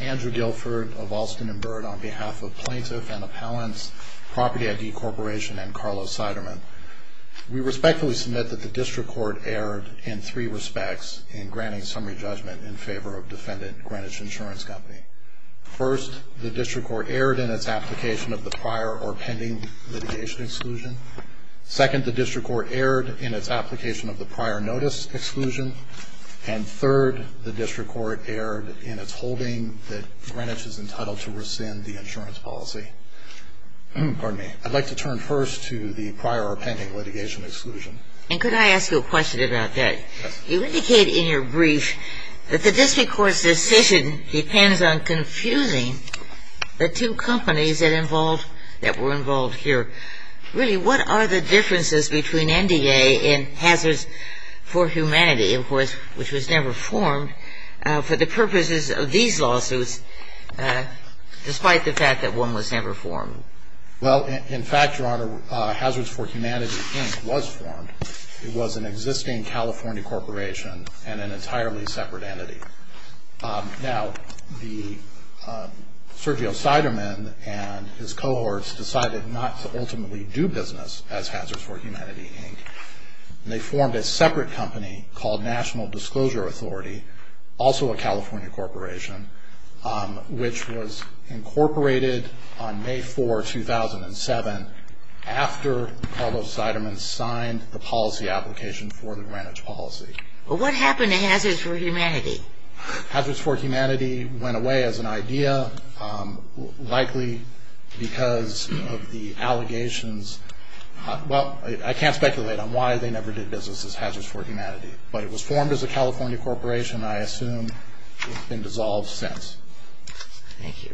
Andrew Guilford of Alston & Byrd on behalf of Plaintiff & Appellants, Property I.D. Corporation, and Carlos Siderman. We respectfully submit that the District Court erred in three respects in granting summary judgment in favor of defendant Greenwich Insurance Company. First, the District Court erred in its application of the prior or pending litigation exclusion. Second, the District Court erred in its application of the prior notice exclusion. And third, the District Court erred in its holding that Greenwich is entitled to rescind the insurance policy. Pardon me. I'd like to turn first to the prior or pending litigation exclusion. And could I ask you a question about that? Yes. You indicated in your brief that the District Court's decision depends on confusing the two companies that involved, that were involved here. Really, what are the differences between NDA and Hazards for Humanity, of course, which was never formed, for the purposes of these lawsuits, despite the fact that one was never formed? Well, in fact, Your Honor, Hazards for Humanity Inc. was formed. It was an existing California corporation and an entirely separate entity. Now, Sergio Siderman and his cohorts decided not to ultimately do business as Hazards for Humanity, Inc. And they formed a separate company called National Disclosure Authority, also a California corporation, which was incorporated on May 4, 2007, after Carlos Siderman signed the policy application for the Greenwich policy. Well, what happened to Hazards for Humanity? Hazards for Humanity went away as an idea, likely because of the allegations. Well, I can't speculate on why they never did business as Hazards for Humanity. But it was formed as a California corporation, and I assume it's been dissolved since. Thank you.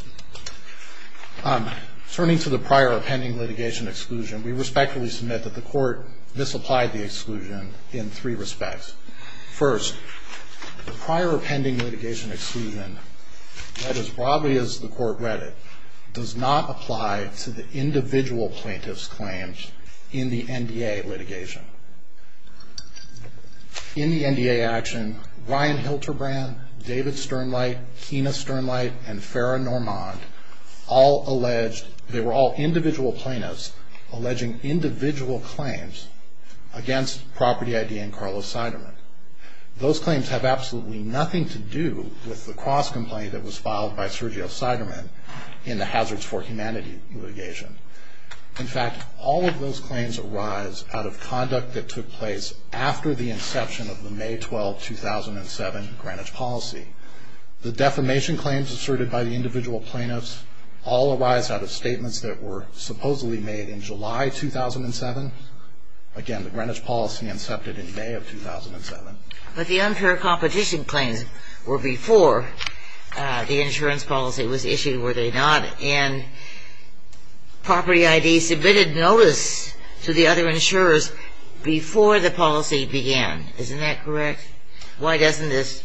Turning to the prior appending litigation exclusion, we respectfully submit that the court misapplied the exclusion in three respects. First, the prior appending litigation exclusion, read as broadly as the court read it, does not apply to the individual plaintiff's claims in the NDA litigation. In the NDA action, Ryan Hilterbrand, David Sternlight, Kina Sternlight, and Farrah Normand all alleged they were all individual plaintiffs alleging individual claims against Property ID and Carlos Siderman. Those claims have absolutely nothing to do with the cross-complaint that was filed by Sergio Siderman in the Hazards for Humanity litigation. In fact, all of those claims arise out of conduct that took place after the inception of the May 12, 2007 Greenwich policy. The defamation claims asserted by the individual plaintiffs all arise out of statements that were supposedly made in July 2007. Again, the Greenwich policy incepted in May of 2007. But the unfair competition claims were before the insurance policy was issued, were they not? And Property ID submitted notice to the other insurers before the policy began. Isn't that correct? Why doesn't this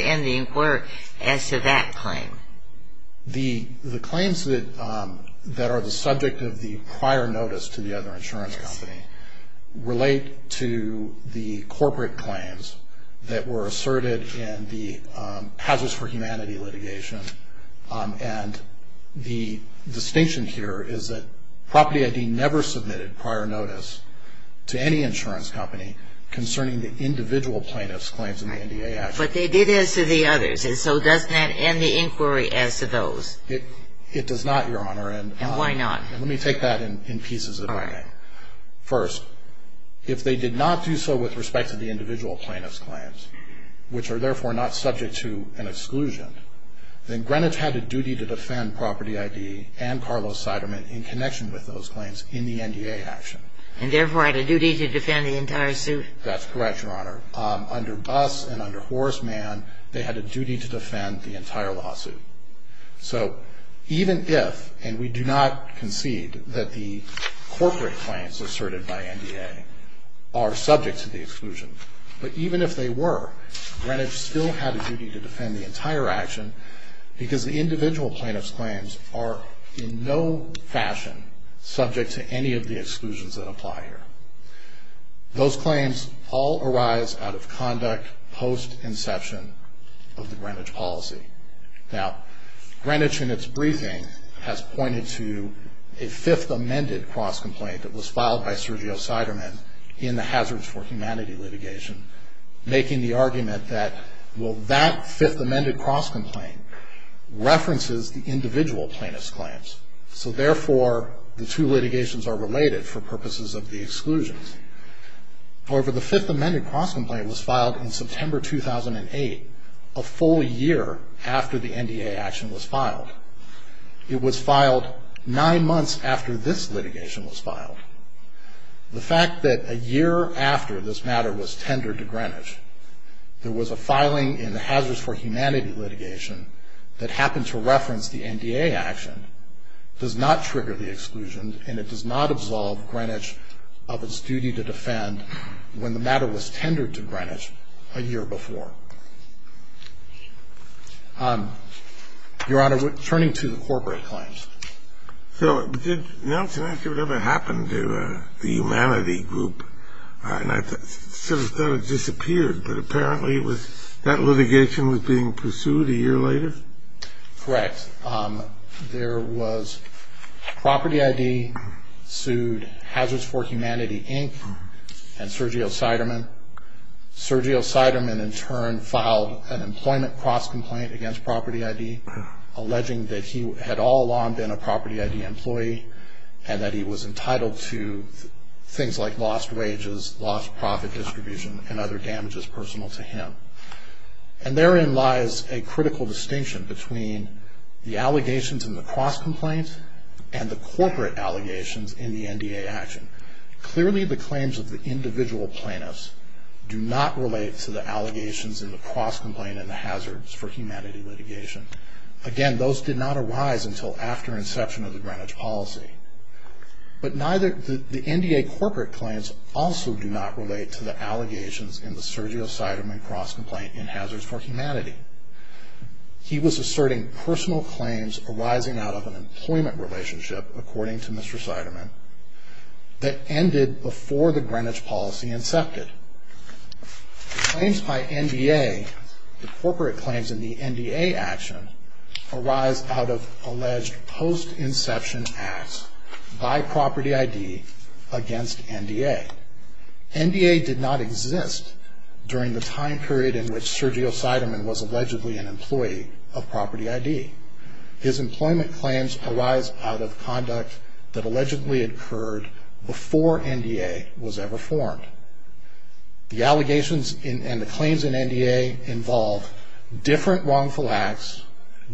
end the inquiry as to that claim? The claims that are the subject of the prior notice to the other insurance company relate to the corporate claims that were asserted in the Hazards for Humanity litigation. And the distinction here is that Property ID never submitted prior notice to any insurance company concerning the individual plaintiffs' claims in the NDA Act. But they did as to the others. And so doesn't that end the inquiry as to those? It does not, Your Honor. And why not? Let me take that in pieces if I may. First, if they did not do so with respect to the individual plaintiffs' claims, which are therefore not subject to an exclusion, then Greenwich had a duty to defend Property ID and Carlos Siderman in connection with those claims in the NDA action. And therefore had a duty to defend the entire suit? That's correct, Your Honor. Under Buss and under Horace Mann, they had a duty to defend the entire lawsuit. So even if, and we do not concede that the corporate claims asserted by NDA are subject to the exclusion, but even if they were, Greenwich still had a duty to defend the entire action because the individual plaintiffs' claims are in no fashion subject to any of the exclusions that apply here. Those claims all arise out of conduct post-inception of the Greenwich policy. Now, Greenwich in its briefing has pointed to a fifth amended cross complaint that was filed by Sergio Siderman in the Hazards for Humanity litigation, making the argument that, well, that fifth amended cross complaint references the individual plaintiffs' claims. So therefore, the two litigations are related for purposes of the exclusions. However, the fifth amended cross complaint was filed in September 2008, a full year after the NDA action was filed. It was filed nine months after this litigation was filed. The fact that a year after this matter was tendered to Greenwich, there was a filing in the Hazards for Humanity litigation that happened to reference the NDA action, does not trigger the exclusion and it does not absolve Greenwich of its duty to defend when the matter was tendered to Greenwich a year before. Your Honor, turning to the corporate claims. So did, now it's an issue of what happened to the humanity group, and I sort of thought it disappeared, but apparently it was, that litigation was being pursued a year later? Correct. There was, Property ID sued Hazards for Humanity, Inc. and Sergio Siderman. Sergio Siderman, in turn, filed an employment cross complaint against Property ID, alleging that he had all along been a Property ID employee, and that he was entitled to things like lost wages, lost profit distribution, and other damages personal to him. And therein lies a critical distinction between the allegations in the cross complaint and the corporate allegations in the NDA action. Clearly, the claims of the individual plaintiffs do not relate to the allegations in the cross complaint and the Hazards for Humanity litigation. Again, those did not arise until after inception of the Greenwich policy. But neither, the NDA corporate claims also do not relate to the allegations in the Sergio Siderman cross complaint in Hazards for Humanity. He was asserting personal claims arising out of an employment relationship, according to Mr. Siderman, that ended before the Greenwich policy incepted. Claims by NDA, the corporate claims in the NDA action, arise out of alleged post-inception acts by Property ID against NDA. NDA did not exist during the time period in which Sergio Siderman was allegedly an employee of Property ID. His employment claims arise out of conduct that allegedly occurred before NDA was ever formed. The allegations and the claims in NDA involve different wrongful acts,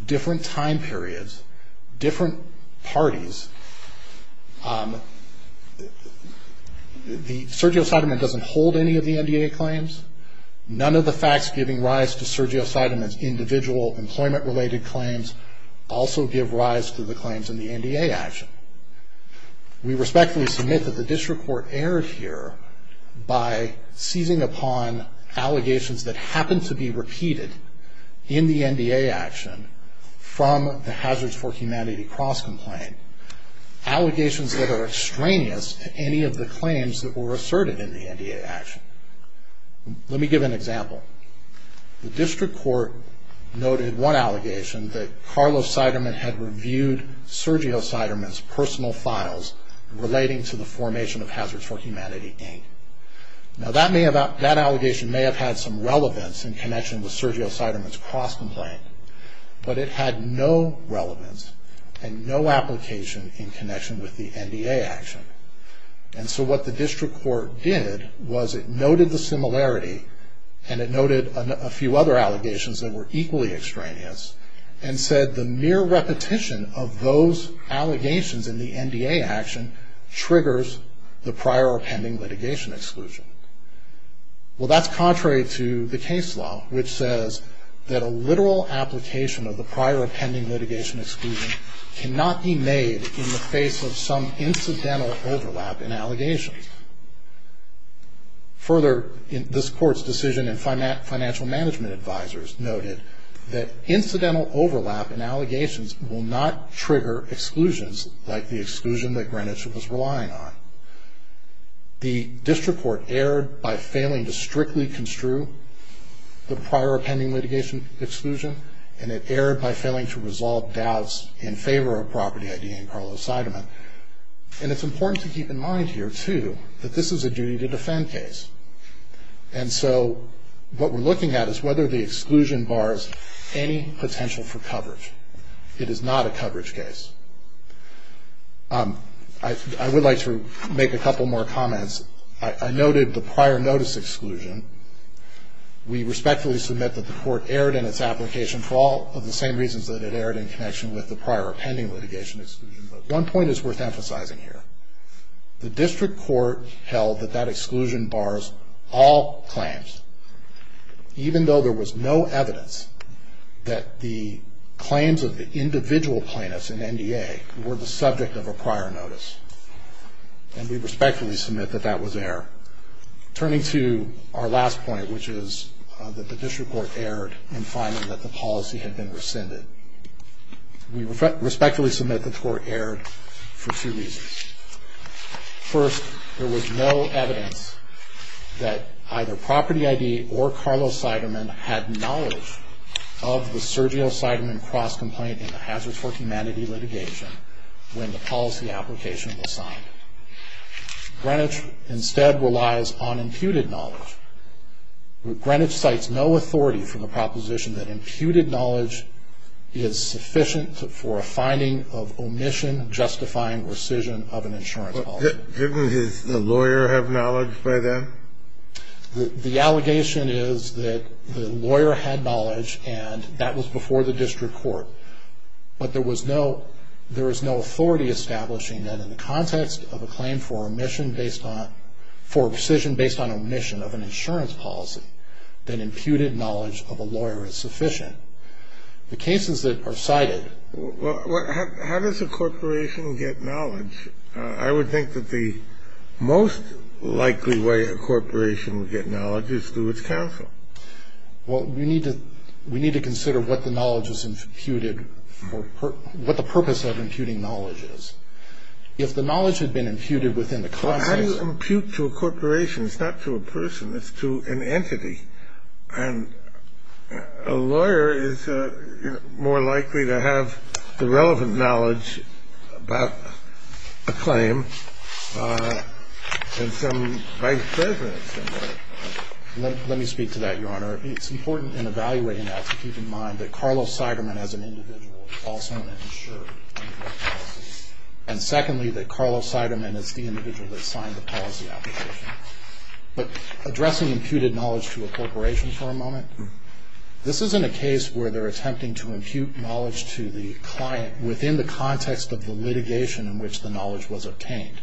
different time periods, different parties. Sergio Siderman doesn't hold any of the NDA claims. None of the facts giving rise to Sergio Siderman's individual employment-related claims also give rise to the claims in the NDA action. We respectfully submit that the district court erred here by seizing upon allegations that happened to be repeated in the NDA action from the Hazards for Humanity cross complaint, allegations that are extraneous to any of the claims that were asserted in the NDA action. Let me give an example. The district court noted one allegation that Carlos Siderman had reviewed Sergio Siderman's personal files relating to the formation of Hazards for Humanity, Inc. Now that allegation may have had some relevance in connection with Sergio Siderman's cross complaint, but it had no relevance and no application in connection with the NDA action. And so what the district court did was it noted the similarity and it noted a few other allegations that were equally extraneous and said the mere repetition of those allegations in the NDA action triggers the prior or pending litigation exclusion. Well, that's contrary to the case law, which says that a literal application of the prior or pending litigation exclusion cannot be made in the face of some incidental overlap in allegations. Further, this court's decision and financial management advisors noted that incidental overlap in allegations will not trigger exclusions like the exclusion that Greenwich was relying on. The district court erred by failing to strictly construe the prior or pending litigation exclusion and it erred by failing to resolve doubts in favor of property ID and Carlos Siderman. And it's important to keep in mind here, too, that this is a duty to defend case. And so what we're looking at is whether the exclusion bars any potential for coverage. It is not a coverage case. I would like to make a couple more comments. I noted the prior notice exclusion. We respectfully submit that the court erred in its application for all of the same reasons that it erred in connection with the prior or pending litigation exclusion. But one point is worth emphasizing here. The district court held that that exclusion bars all claims, even though there was no evidence that the claims of the individual plaintiffs in NDA were the subject of a prior notice. And we respectfully submit that that was error. Turning to our last point, which is that the district court erred in finding that the policy had been rescinded. We respectfully submit that the court erred for two reasons. First, there was no evidence that either property ID or Carlos Siderman had knowledge of the Sergio Siderman cross-complaint in the Hazards for Humanity litigation when the policy application was signed. Greenwich instead relies on imputed knowledge. Greenwich cites no authority from the proposition that imputed knowledge is sufficient for a finding of omission, justifying rescission of an insurance policy. Didn't the lawyer have knowledge by then? The allegation is that the lawyer had knowledge, and that was before the district court. But there was no authority establishing that in the context of a claim for rescission based on omission of an insurance policy, that imputed knowledge of a lawyer is sufficient. The cases that are cited. Well, how does a corporation get knowledge? I would think that the most likely way a corporation would get knowledge is through its counsel. Well, we need to consider what the purpose of imputing knowledge is. If the knowledge had been imputed within the context of a claim. How do you impute to a corporation? It's not to a person. It's to an entity. And a lawyer is more likely to have the relevant knowledge about a claim than some vice president. Let me speak to that, Your Honor. It's important in evaluating that to keep in mind that Carlos Siderman as an individual also insured a policy. And secondly, that Carlos Siderman is the individual that signed the policy application. But addressing imputed knowledge to a corporation for a moment, this isn't a case where they're attempting to impute knowledge to the client within the context of the litigation in which the knowledge was obtained.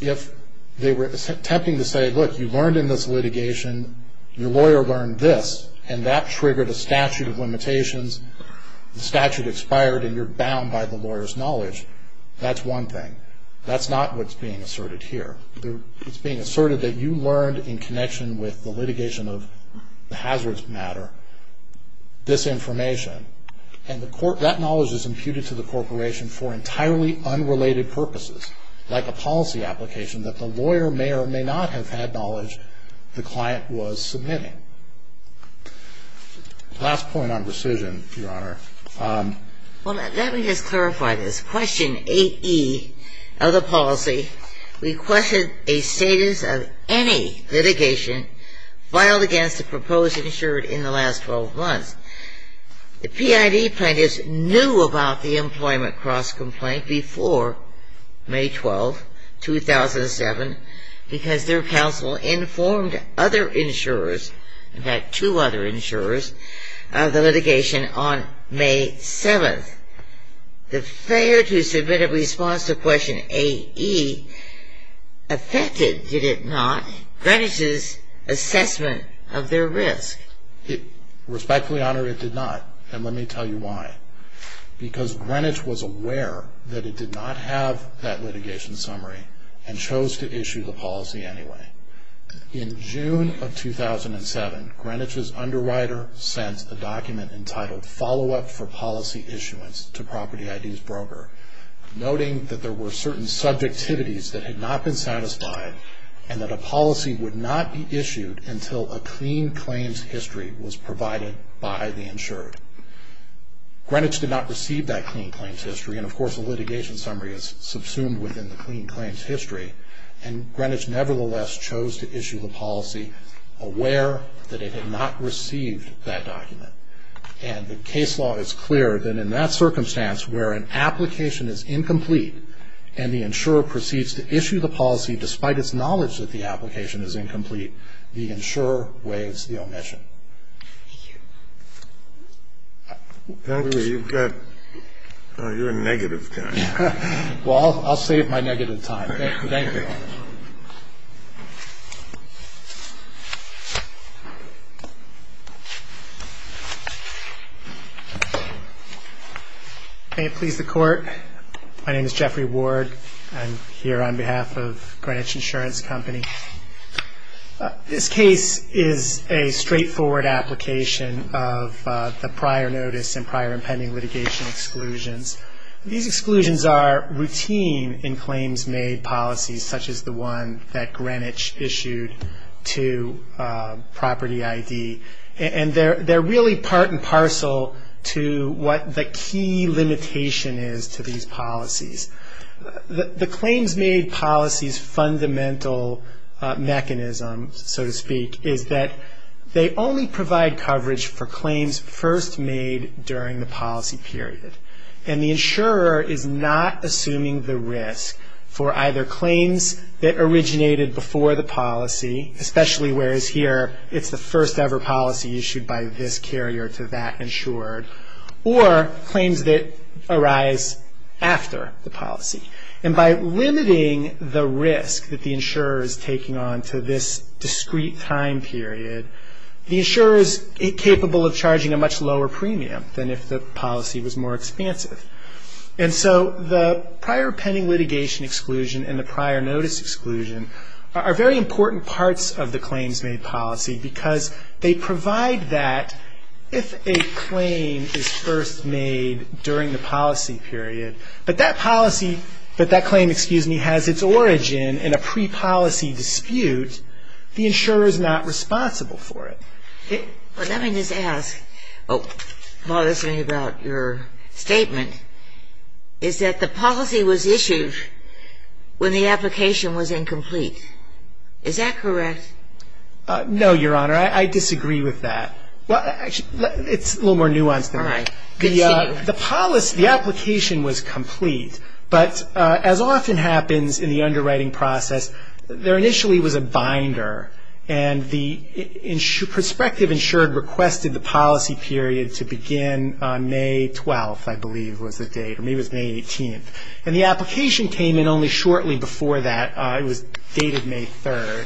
If they were attempting to say, look, you learned in this litigation, your lawyer learned this, and that triggered a statute of limitations, the statute expired, and you're bound by the lawyer's knowledge, that's one thing. That's not what's being asserted here. It's being asserted that you learned in connection with the litigation of the hazards matter, this information. And that knowledge is imputed to the corporation for entirely unrelated purposes, like a policy application that the lawyer may or may not have had knowledge the client was submitting. Last point on rescission, Your Honor. Well, let me just clarify this. Question 8E of the policy requested a status of any litigation filed against a proposed insured in the last 12 months. The PID plaintiffs knew about the employment cross-complaint before May 12, 2007, because their counsel informed other insurers, in fact two other insurers, of the litigation on May 7th. The failure to submit a response to question 8E affected, did it not, Greenwich's assessment of their risk. Respectfully, Your Honor, it did not. And let me tell you why. Because Greenwich was aware that it did not have that litigation summary and chose to issue the policy anyway. In June of 2007, Greenwich's underwriter sent a document entitled, Follow-up for Policy Issuance to Property ID's Broker, noting that there were certain subjectivities that had not been satisfied and that a policy would not be issued until a clean claims history was provided by the insured. Greenwich did not receive that clean claims history, and of course the litigation summary is subsumed within the clean claims history, and Greenwich nevertheless chose to issue the policy aware that it had not received that document. And the case law is clear that in that circumstance where an application is incomplete and the insurer proceeds to issue the policy despite its knowledge that the application is incomplete, the insurer waives the omission. Thank you. You've got, oh, you're a negative guy. Well, I'll save my negative time. Thank you. May it please the Court. My name is Jeffrey Ward. I'm here on behalf of Greenwich Insurance Company. This case is a straightforward application of the prior notice and prior impending litigation exclusions. These exclusions are routine in claims made policies such as the one that Greenwich issued to Property ID, and they're really part and parcel to what the key limitation is to these policies. The claims made policies' fundamental mechanism, so to speak, is that they only provide coverage for claims first made during the policy period, and the insurer is not assuming the risk for either claims that originated before the policy, especially whereas here it's the first ever policy issued by this carrier to that insured, or claims that arise after the policy. And by limiting the risk that the insurer is taking on to this discrete time period, the insurer is capable of charging a much lower premium than if the policy was more expansive. And so the prior pending litigation exclusion and the prior notice exclusion are very important parts of the claims made policy because they provide that if a claim is first made during the policy period, but that policy, but that claim, excuse me, has its origin in a pre-policy dispute. The insurer is not responsible for it. Well, let me just ask, while listening about your statement, is that the policy was issued when the application was incomplete. Is that correct? No, Your Honor. I disagree with that. It's a little more nuanced than that. All right. Continue. The policy, the application was complete, but as often happens in the underwriting process, there initially was a binder, and the prospective insured requested the policy period to begin on May 12th, I believe was the date, or maybe it was May 18th. And the application came in only shortly before that. It was dated May 3rd.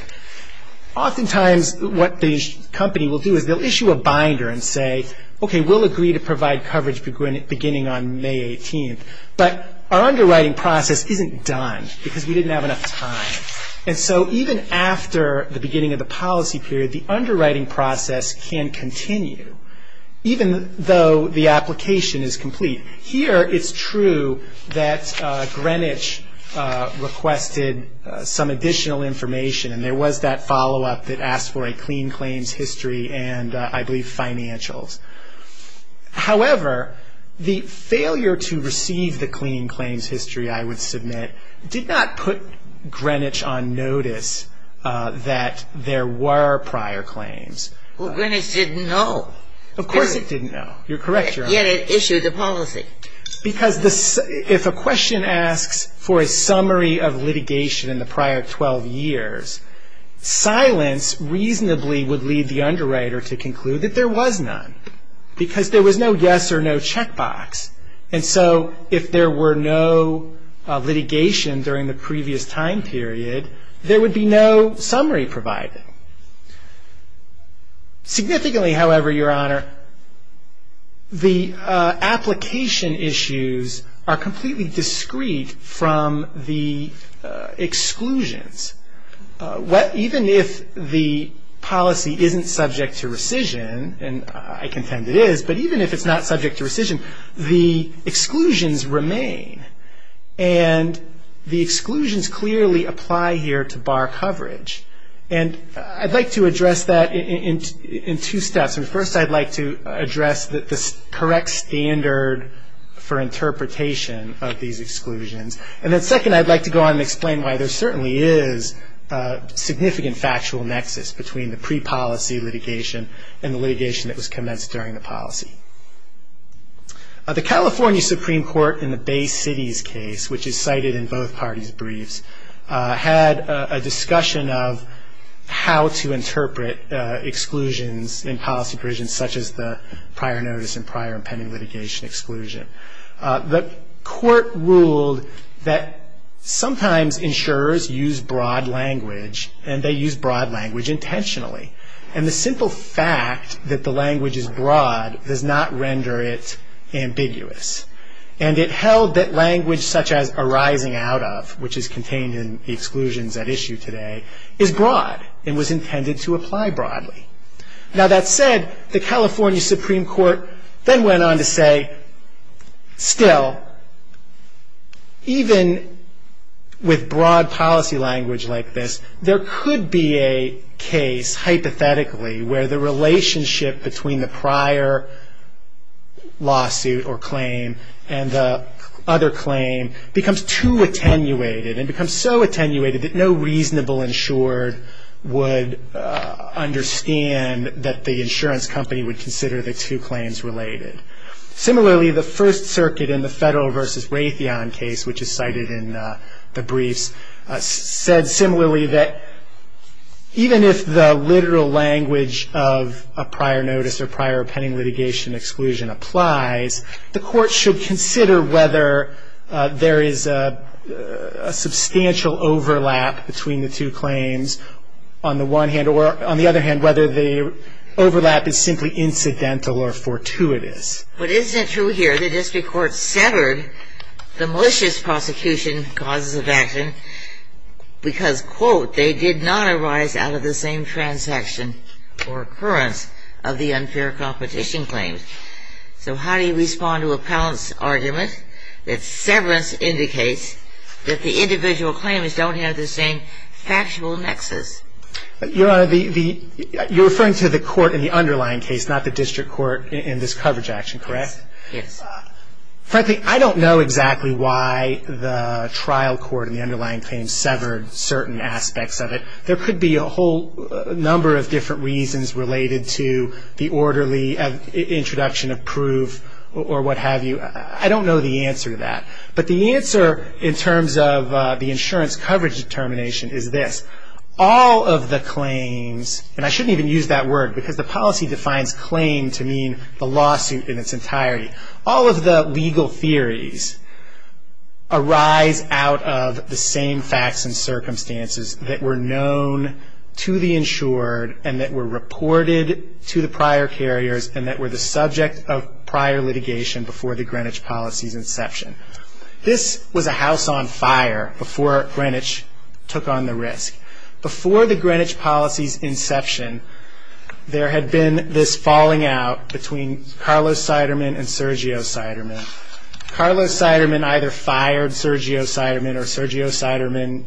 Oftentimes what the company will do is they'll issue a binder and say, okay, we'll agree to provide coverage beginning on May 18th, but our underwriting process isn't done because we didn't have enough time. And so even after the beginning of the policy period, the underwriting process can continue, even though the application is complete. Here it's true that Greenwich requested some additional information, and there was that follow-up that asked for a clean claims history and, I believe, financials. However, the failure to receive the clean claims history, I would submit, did not put Greenwich on notice that there were prior claims. Well, Greenwich didn't know. Of course it didn't know. You're correct, Your Honor. Yet it issued the policy. Because if a question asks for a summary of litigation in the prior 12 years, silence reasonably would lead the underwriter to conclude that there was none, because there was no yes or no checkbox. And so if there were no litigation during the previous time period, there would be no summary provided. Significantly, however, Your Honor, the application issues are completely discreet from the exclusions. Even if the policy isn't subject to rescission, and I contend it is, but even if it's not subject to rescission, the exclusions remain. And the exclusions clearly apply here to bar coverage. And I'd like to address that in two steps. First, I'd like to address the correct standard for interpretation of these exclusions. And then second, I'd like to go on and explain why there certainly is a significant factual nexus between the pre-policy litigation and the litigation that was commenced during the policy. The California Supreme Court in the Bay City's case, which is cited in both parties' briefs, had a discussion of how to interpret exclusions in policy provisions, such as the prior notice and prior impending litigation exclusion. The court ruled that sometimes insurers use broad language, and they use broad language intentionally. And the simple fact that the language is broad does not render it ambiguous. And it held that language such as arising out of, which is contained in the exclusions at issue today, is broad and was intended to apply broadly. Now, that said, the California Supreme Court then went on to say, still, even with broad policy language like this, there could be a case, hypothetically, where the relationship between the prior lawsuit or claim and the other claim becomes too attenuated and becomes so attenuated that no reasonable insured would understand that the insurance company would consider the two claims related. Similarly, the First Circuit in the Federal v. Raytheon case, which is cited in the briefs, said similarly that even if the literal language of a prior notice or prior impending litigation exclusion applies, the court should consider whether there is a substantial overlap between the two claims on the one hand or, on the other hand, whether the overlap is simply incidental or fortuitous. But isn't it true here the district court severed the malicious prosecution causes of action because, quote, they did not arise out of the same transaction or occurrence of the unfair competition claims? So how do you respond to Appellant's argument that severance indicates that the individual claims don't have the same factual nexus? Your Honor, you're referring to the court in the underlying case, not the district court in this coverage action, correct? Yes. Frankly, I don't know exactly why the trial court in the underlying claim severed certain aspects of it. There could be a whole number of different reasons related to the orderly introduction of proof or what have you. I don't know the answer to that. But the answer in terms of the insurance coverage determination is this. All of the claims, and I shouldn't even use that word because the policy defines claim to mean the lawsuit in its entirety. All of the legal theories arise out of the same facts and circumstances that were known to the insured and that were reported to the prior carriers and that were the subject of prior litigation before the Greenwich policy's inception. This was a house on fire before Greenwich took on the risk. Before the Greenwich policy's inception, there had been this falling out between Carlos Seidermann and Sergio Seidermann. Carlos Seidermann either fired Sergio Seidermann or Sergio Seidermann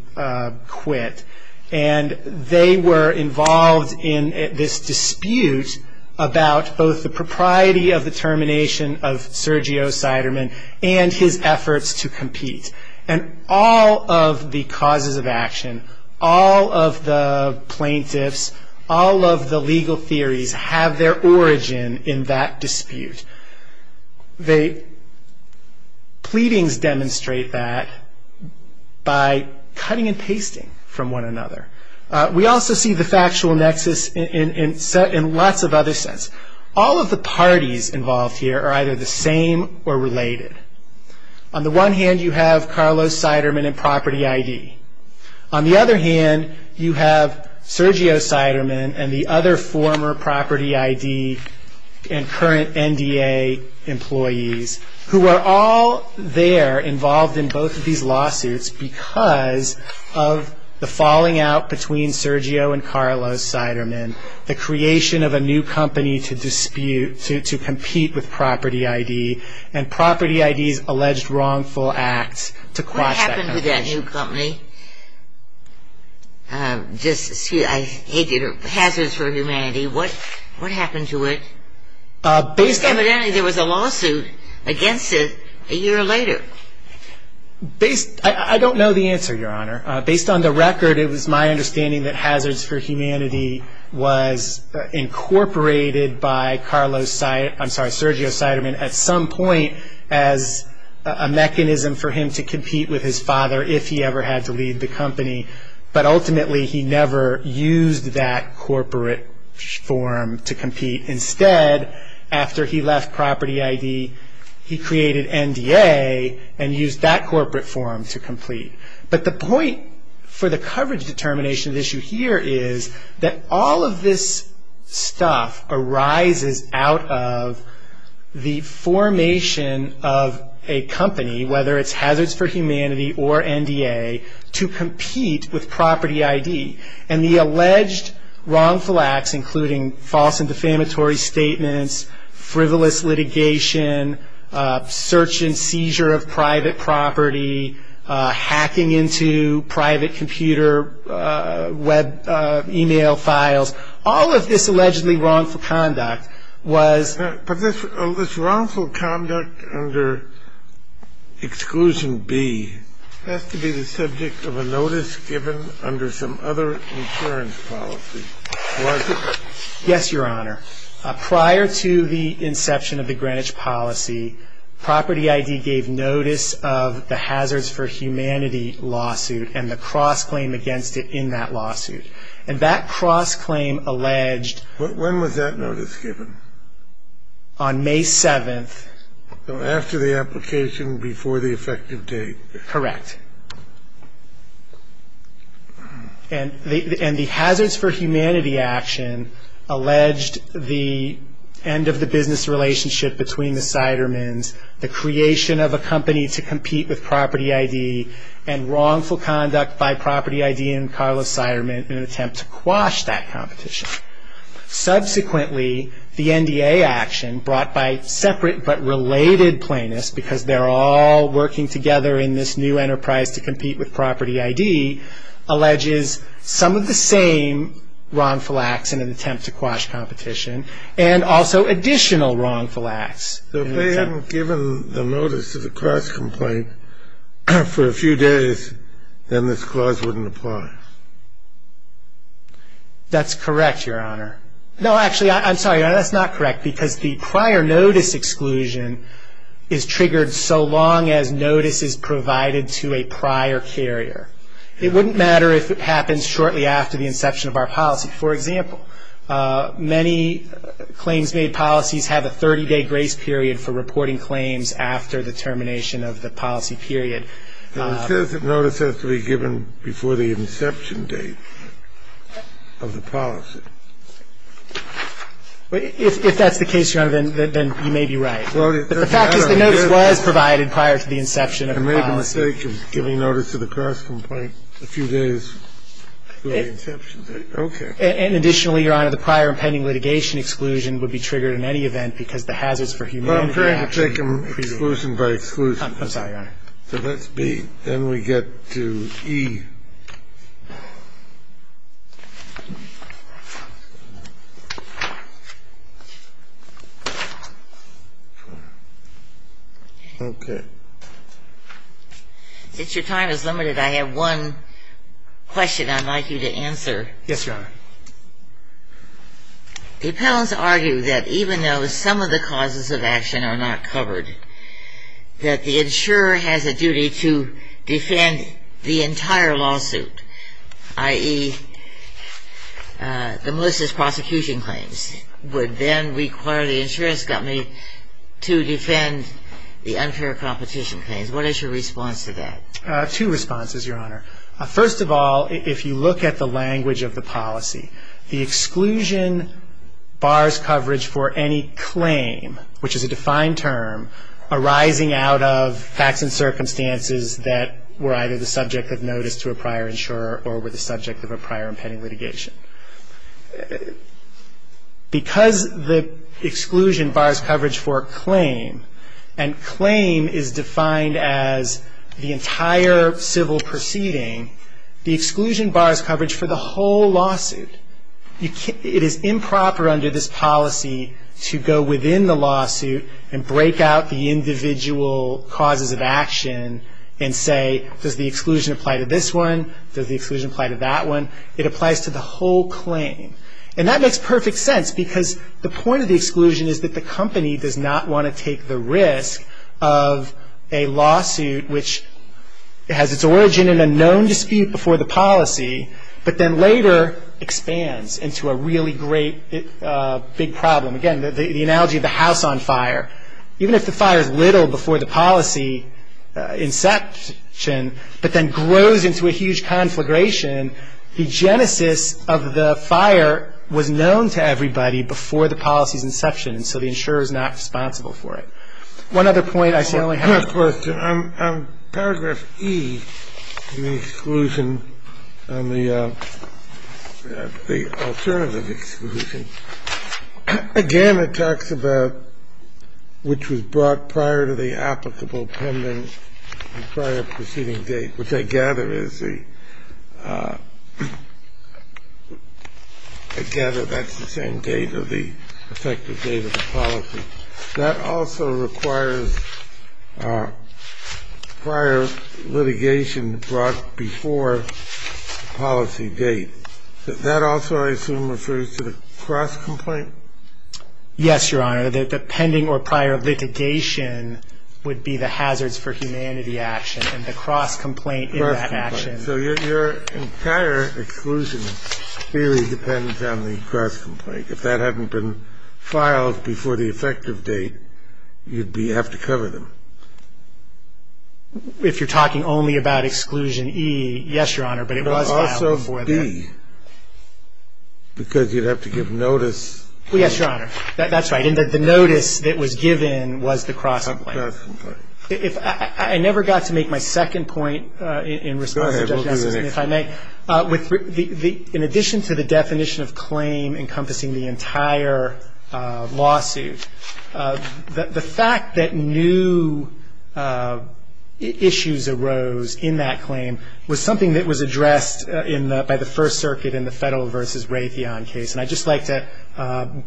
quit. And they were involved in this dispute about both the propriety of the termination of Sergio Seidermann and his efforts to compete. And all of the causes of action, all of the plaintiffs, all of the legal theories have their origin in that dispute. The pleadings demonstrate that by cutting and pasting from one another. We also see the factual nexus in lots of other sense. All of the parties involved here are either the same or related. On the one hand, you have Carlos Seidermann and Property ID. On the other hand, you have Sergio Seidermann and the other former Property ID and current NDA employees who are all there involved in both of these lawsuits because of the falling out between Sergio and Carlos Seidermann. The creation of a new company to dispute, to compete with Property ID and Property ID's alleged wrongful act to quash that company. What happened to that new company? Just, excuse me, I hate it. Hazards for Humanity, what happened to it? Evidently there was a lawsuit against it a year later. I don't know the answer, Your Honor. Based on the record, it was my understanding that Hazards for Humanity was incorporated by Carlos Seidermann, I'm sorry, Sergio Seidermann at some point as a mechanism for him to compete with his father if he ever had to leave the company, but ultimately he never used that corporate form to compete. Instead, after he left Property ID, he created NDA and used that corporate form to complete. But the point for the coverage determination issue here is that all of this stuff arises out of the formation of a company, whether it's Hazards for Humanity or NDA, to compete with Property ID. And the alleged wrongful acts, including false and defamatory statements, frivolous litigation, search and seizure of private property, hacking into private computer web email files, all of this allegedly wrongful conduct was... But this wrongful conduct under Exclusion B has to be the subject of a notice given under some other insurance policy, was it? Yes, Your Honor. Prior to the inception of the Greenwich policy, Property ID gave notice of the Hazards for Humanity lawsuit and the cross-claim against it in that lawsuit. And that cross-claim alleged... When was that notice given? On May 7th. So after the application, before the effective date. Correct. And the Hazards for Humanity action alleged the end of the business relationship between the Seidermans, the creation of a company to compete with Property ID, and wrongful conduct by Property ID and Carlos Seiderman in an attempt to quash that competition. Subsequently, the NDA action, brought by separate but related plaintiffs, because they're all working together in this new enterprise to compete with Property ID, alleges some of the same wrongful acts in an attempt to quash competition and also additional wrongful acts. So if they hadn't given the notice of the cross-complaint for a few days, then this clause wouldn't apply. That's correct, Your Honor. No, actually, I'm sorry. That's not correct, because the prior notice exclusion is triggered so long as notice is provided to a prior carrier. It wouldn't matter if it happens shortly after the inception of our policy. For example, many claims-made policies have a 30-day grace period for reporting claims after the termination of the policy period. It says that notice has to be given before the inception date of the policy. If that's the case, Your Honor, then you may be right. But the fact is the notice was provided prior to the inception of the policy. I made the mistake of giving notice of the cross-complaint a few days before the inception date. Okay. And additionally, Your Honor, the prior impending litigation exclusion would be triggered in any event because the hazards for humanity are actually prevailing. Well, I'm trying to take them exclusion by exclusion. I'm sorry, Your Honor. So that's B. Then we get to E. Okay. Since your time is limited, I have one question I'd like you to answer. Yes, Your Honor. The appellants argue that even though some of the causes of action are not covered, that the insurer has a duty to defend the entire lawsuit, i.e., the malicious prosecution claims, would then require the insurance company to defend the unfair competition claims. What is your response to that? Two responses, Your Honor. First of all, if you look at the language of the policy, the exclusion bars coverage for any claim, which is a defined term arising out of facts and circumstances that were either the subject of notice to a prior insurer or were the subject of a prior impending litigation. Because the exclusion bars coverage for a claim, and claim is defined as the entire civil proceeding, the exclusion bars coverage for the whole lawsuit. It is improper under this policy to go within the lawsuit and break out the individual causes of action and say, does the exclusion apply to this one? Does the exclusion apply to that one? It applies to the whole claim. And that makes perfect sense because the point of the exclusion is that the company does not want to take the risk of a lawsuit which has its origin in a known dispute before the policy, but then later expands into a really great big problem. Again, the analogy of the house on fire. Even if the fire is little before the policy inception, but then grows into a huge conflagration, the genesis of the fire was known to everybody before the policy's inception, and so the insurer is not responsible for it. One other point I see. I only have one. Scalia. Good question. Paragraph E in the exclusion on the alternative exclusion, again, it talks about which was brought prior to the applicable pending prior proceeding date, which I gather is the – I gather that's the same date or the effective date of the policy. That also requires prior litigation brought before the policy date. That also, I assume, refers to the cross complaint? Yes, Your Honor. The pending or prior litigation would be the hazards for humanity action, and the cross complaint in that action. Cross complaint. So your entire exclusion really depends on the cross complaint. If that hadn't been filed before the effective date, you'd have to cover them. If you're talking only about exclusion E, yes, Your Honor, but it was filed before that. It would also be, because you'd have to give notice. Yes, Your Honor. That's right. The notice that was given was the cross complaint. Cross complaint. If – I never got to make my second point in response to Justice Nelson. We'll give you the next one. If I may. In addition to the definition of claim encompassing the entire lawsuit, the fact that new issues arose in that claim was something that was addressed in the – by the First Circuit in the Federal v. Raytheon case, and I'd just like to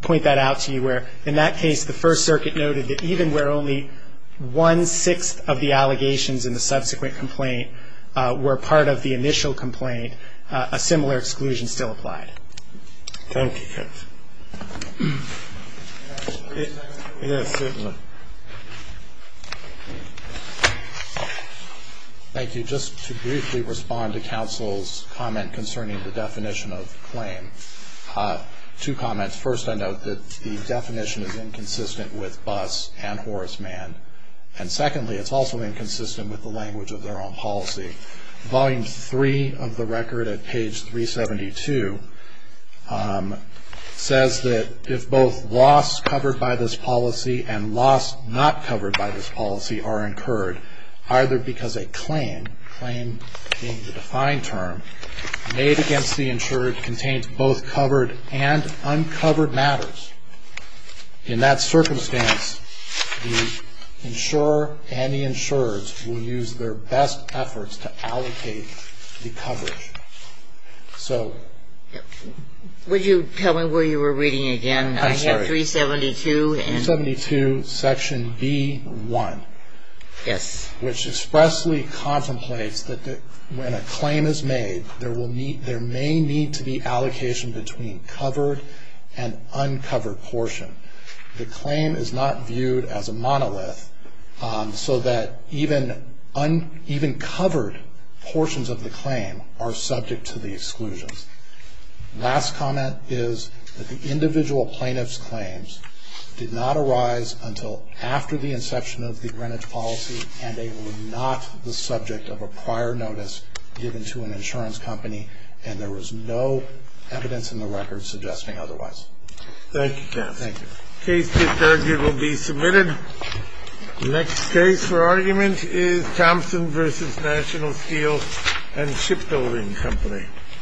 point that out to you where, in that case, the First Circuit noted that even where only one-sixth of the allegations in the subsequent complaint were part of the initial complaint, a similar exclusion still applied. Thank you, Judge. Thank you. Just to briefly respond to counsel's comment concerning the definition of claim, two comments. First, I note that the definition is inconsistent with Buss and Horace Mann, and secondly, it's also inconsistent with the language of their own policy. Volume 3 of the record at page 372 says that if both loss covered by this policy and loss not covered by this policy are incurred either because a claim, claim being the defined term, made against the insured contains both covered and uncovered matters, in that circumstance, the insurer and the insurers will use their best efforts to allocate the coverage. So – Would you tell me where you were reading again? I'm sorry. I have 372 and – 372, section B-1. Yes. Which expressly contemplates that when a claim is made, there may need to be allocation between covered and uncovered portion. The claim is not viewed as a monolith, so that even covered portions of the claim are subject to the exclusions. Last comment is that the individual plaintiff's claims did not arise until after the inception of the Greenwich policy, and they were not the subject of a prior notice given to an insurance company, and there was no evidence in the record suggesting otherwise. Thank you, counsel. Thank you. The case discharged here will be submitted. The next case for argument is Thompson v. National Steel and Shipbuilding Company.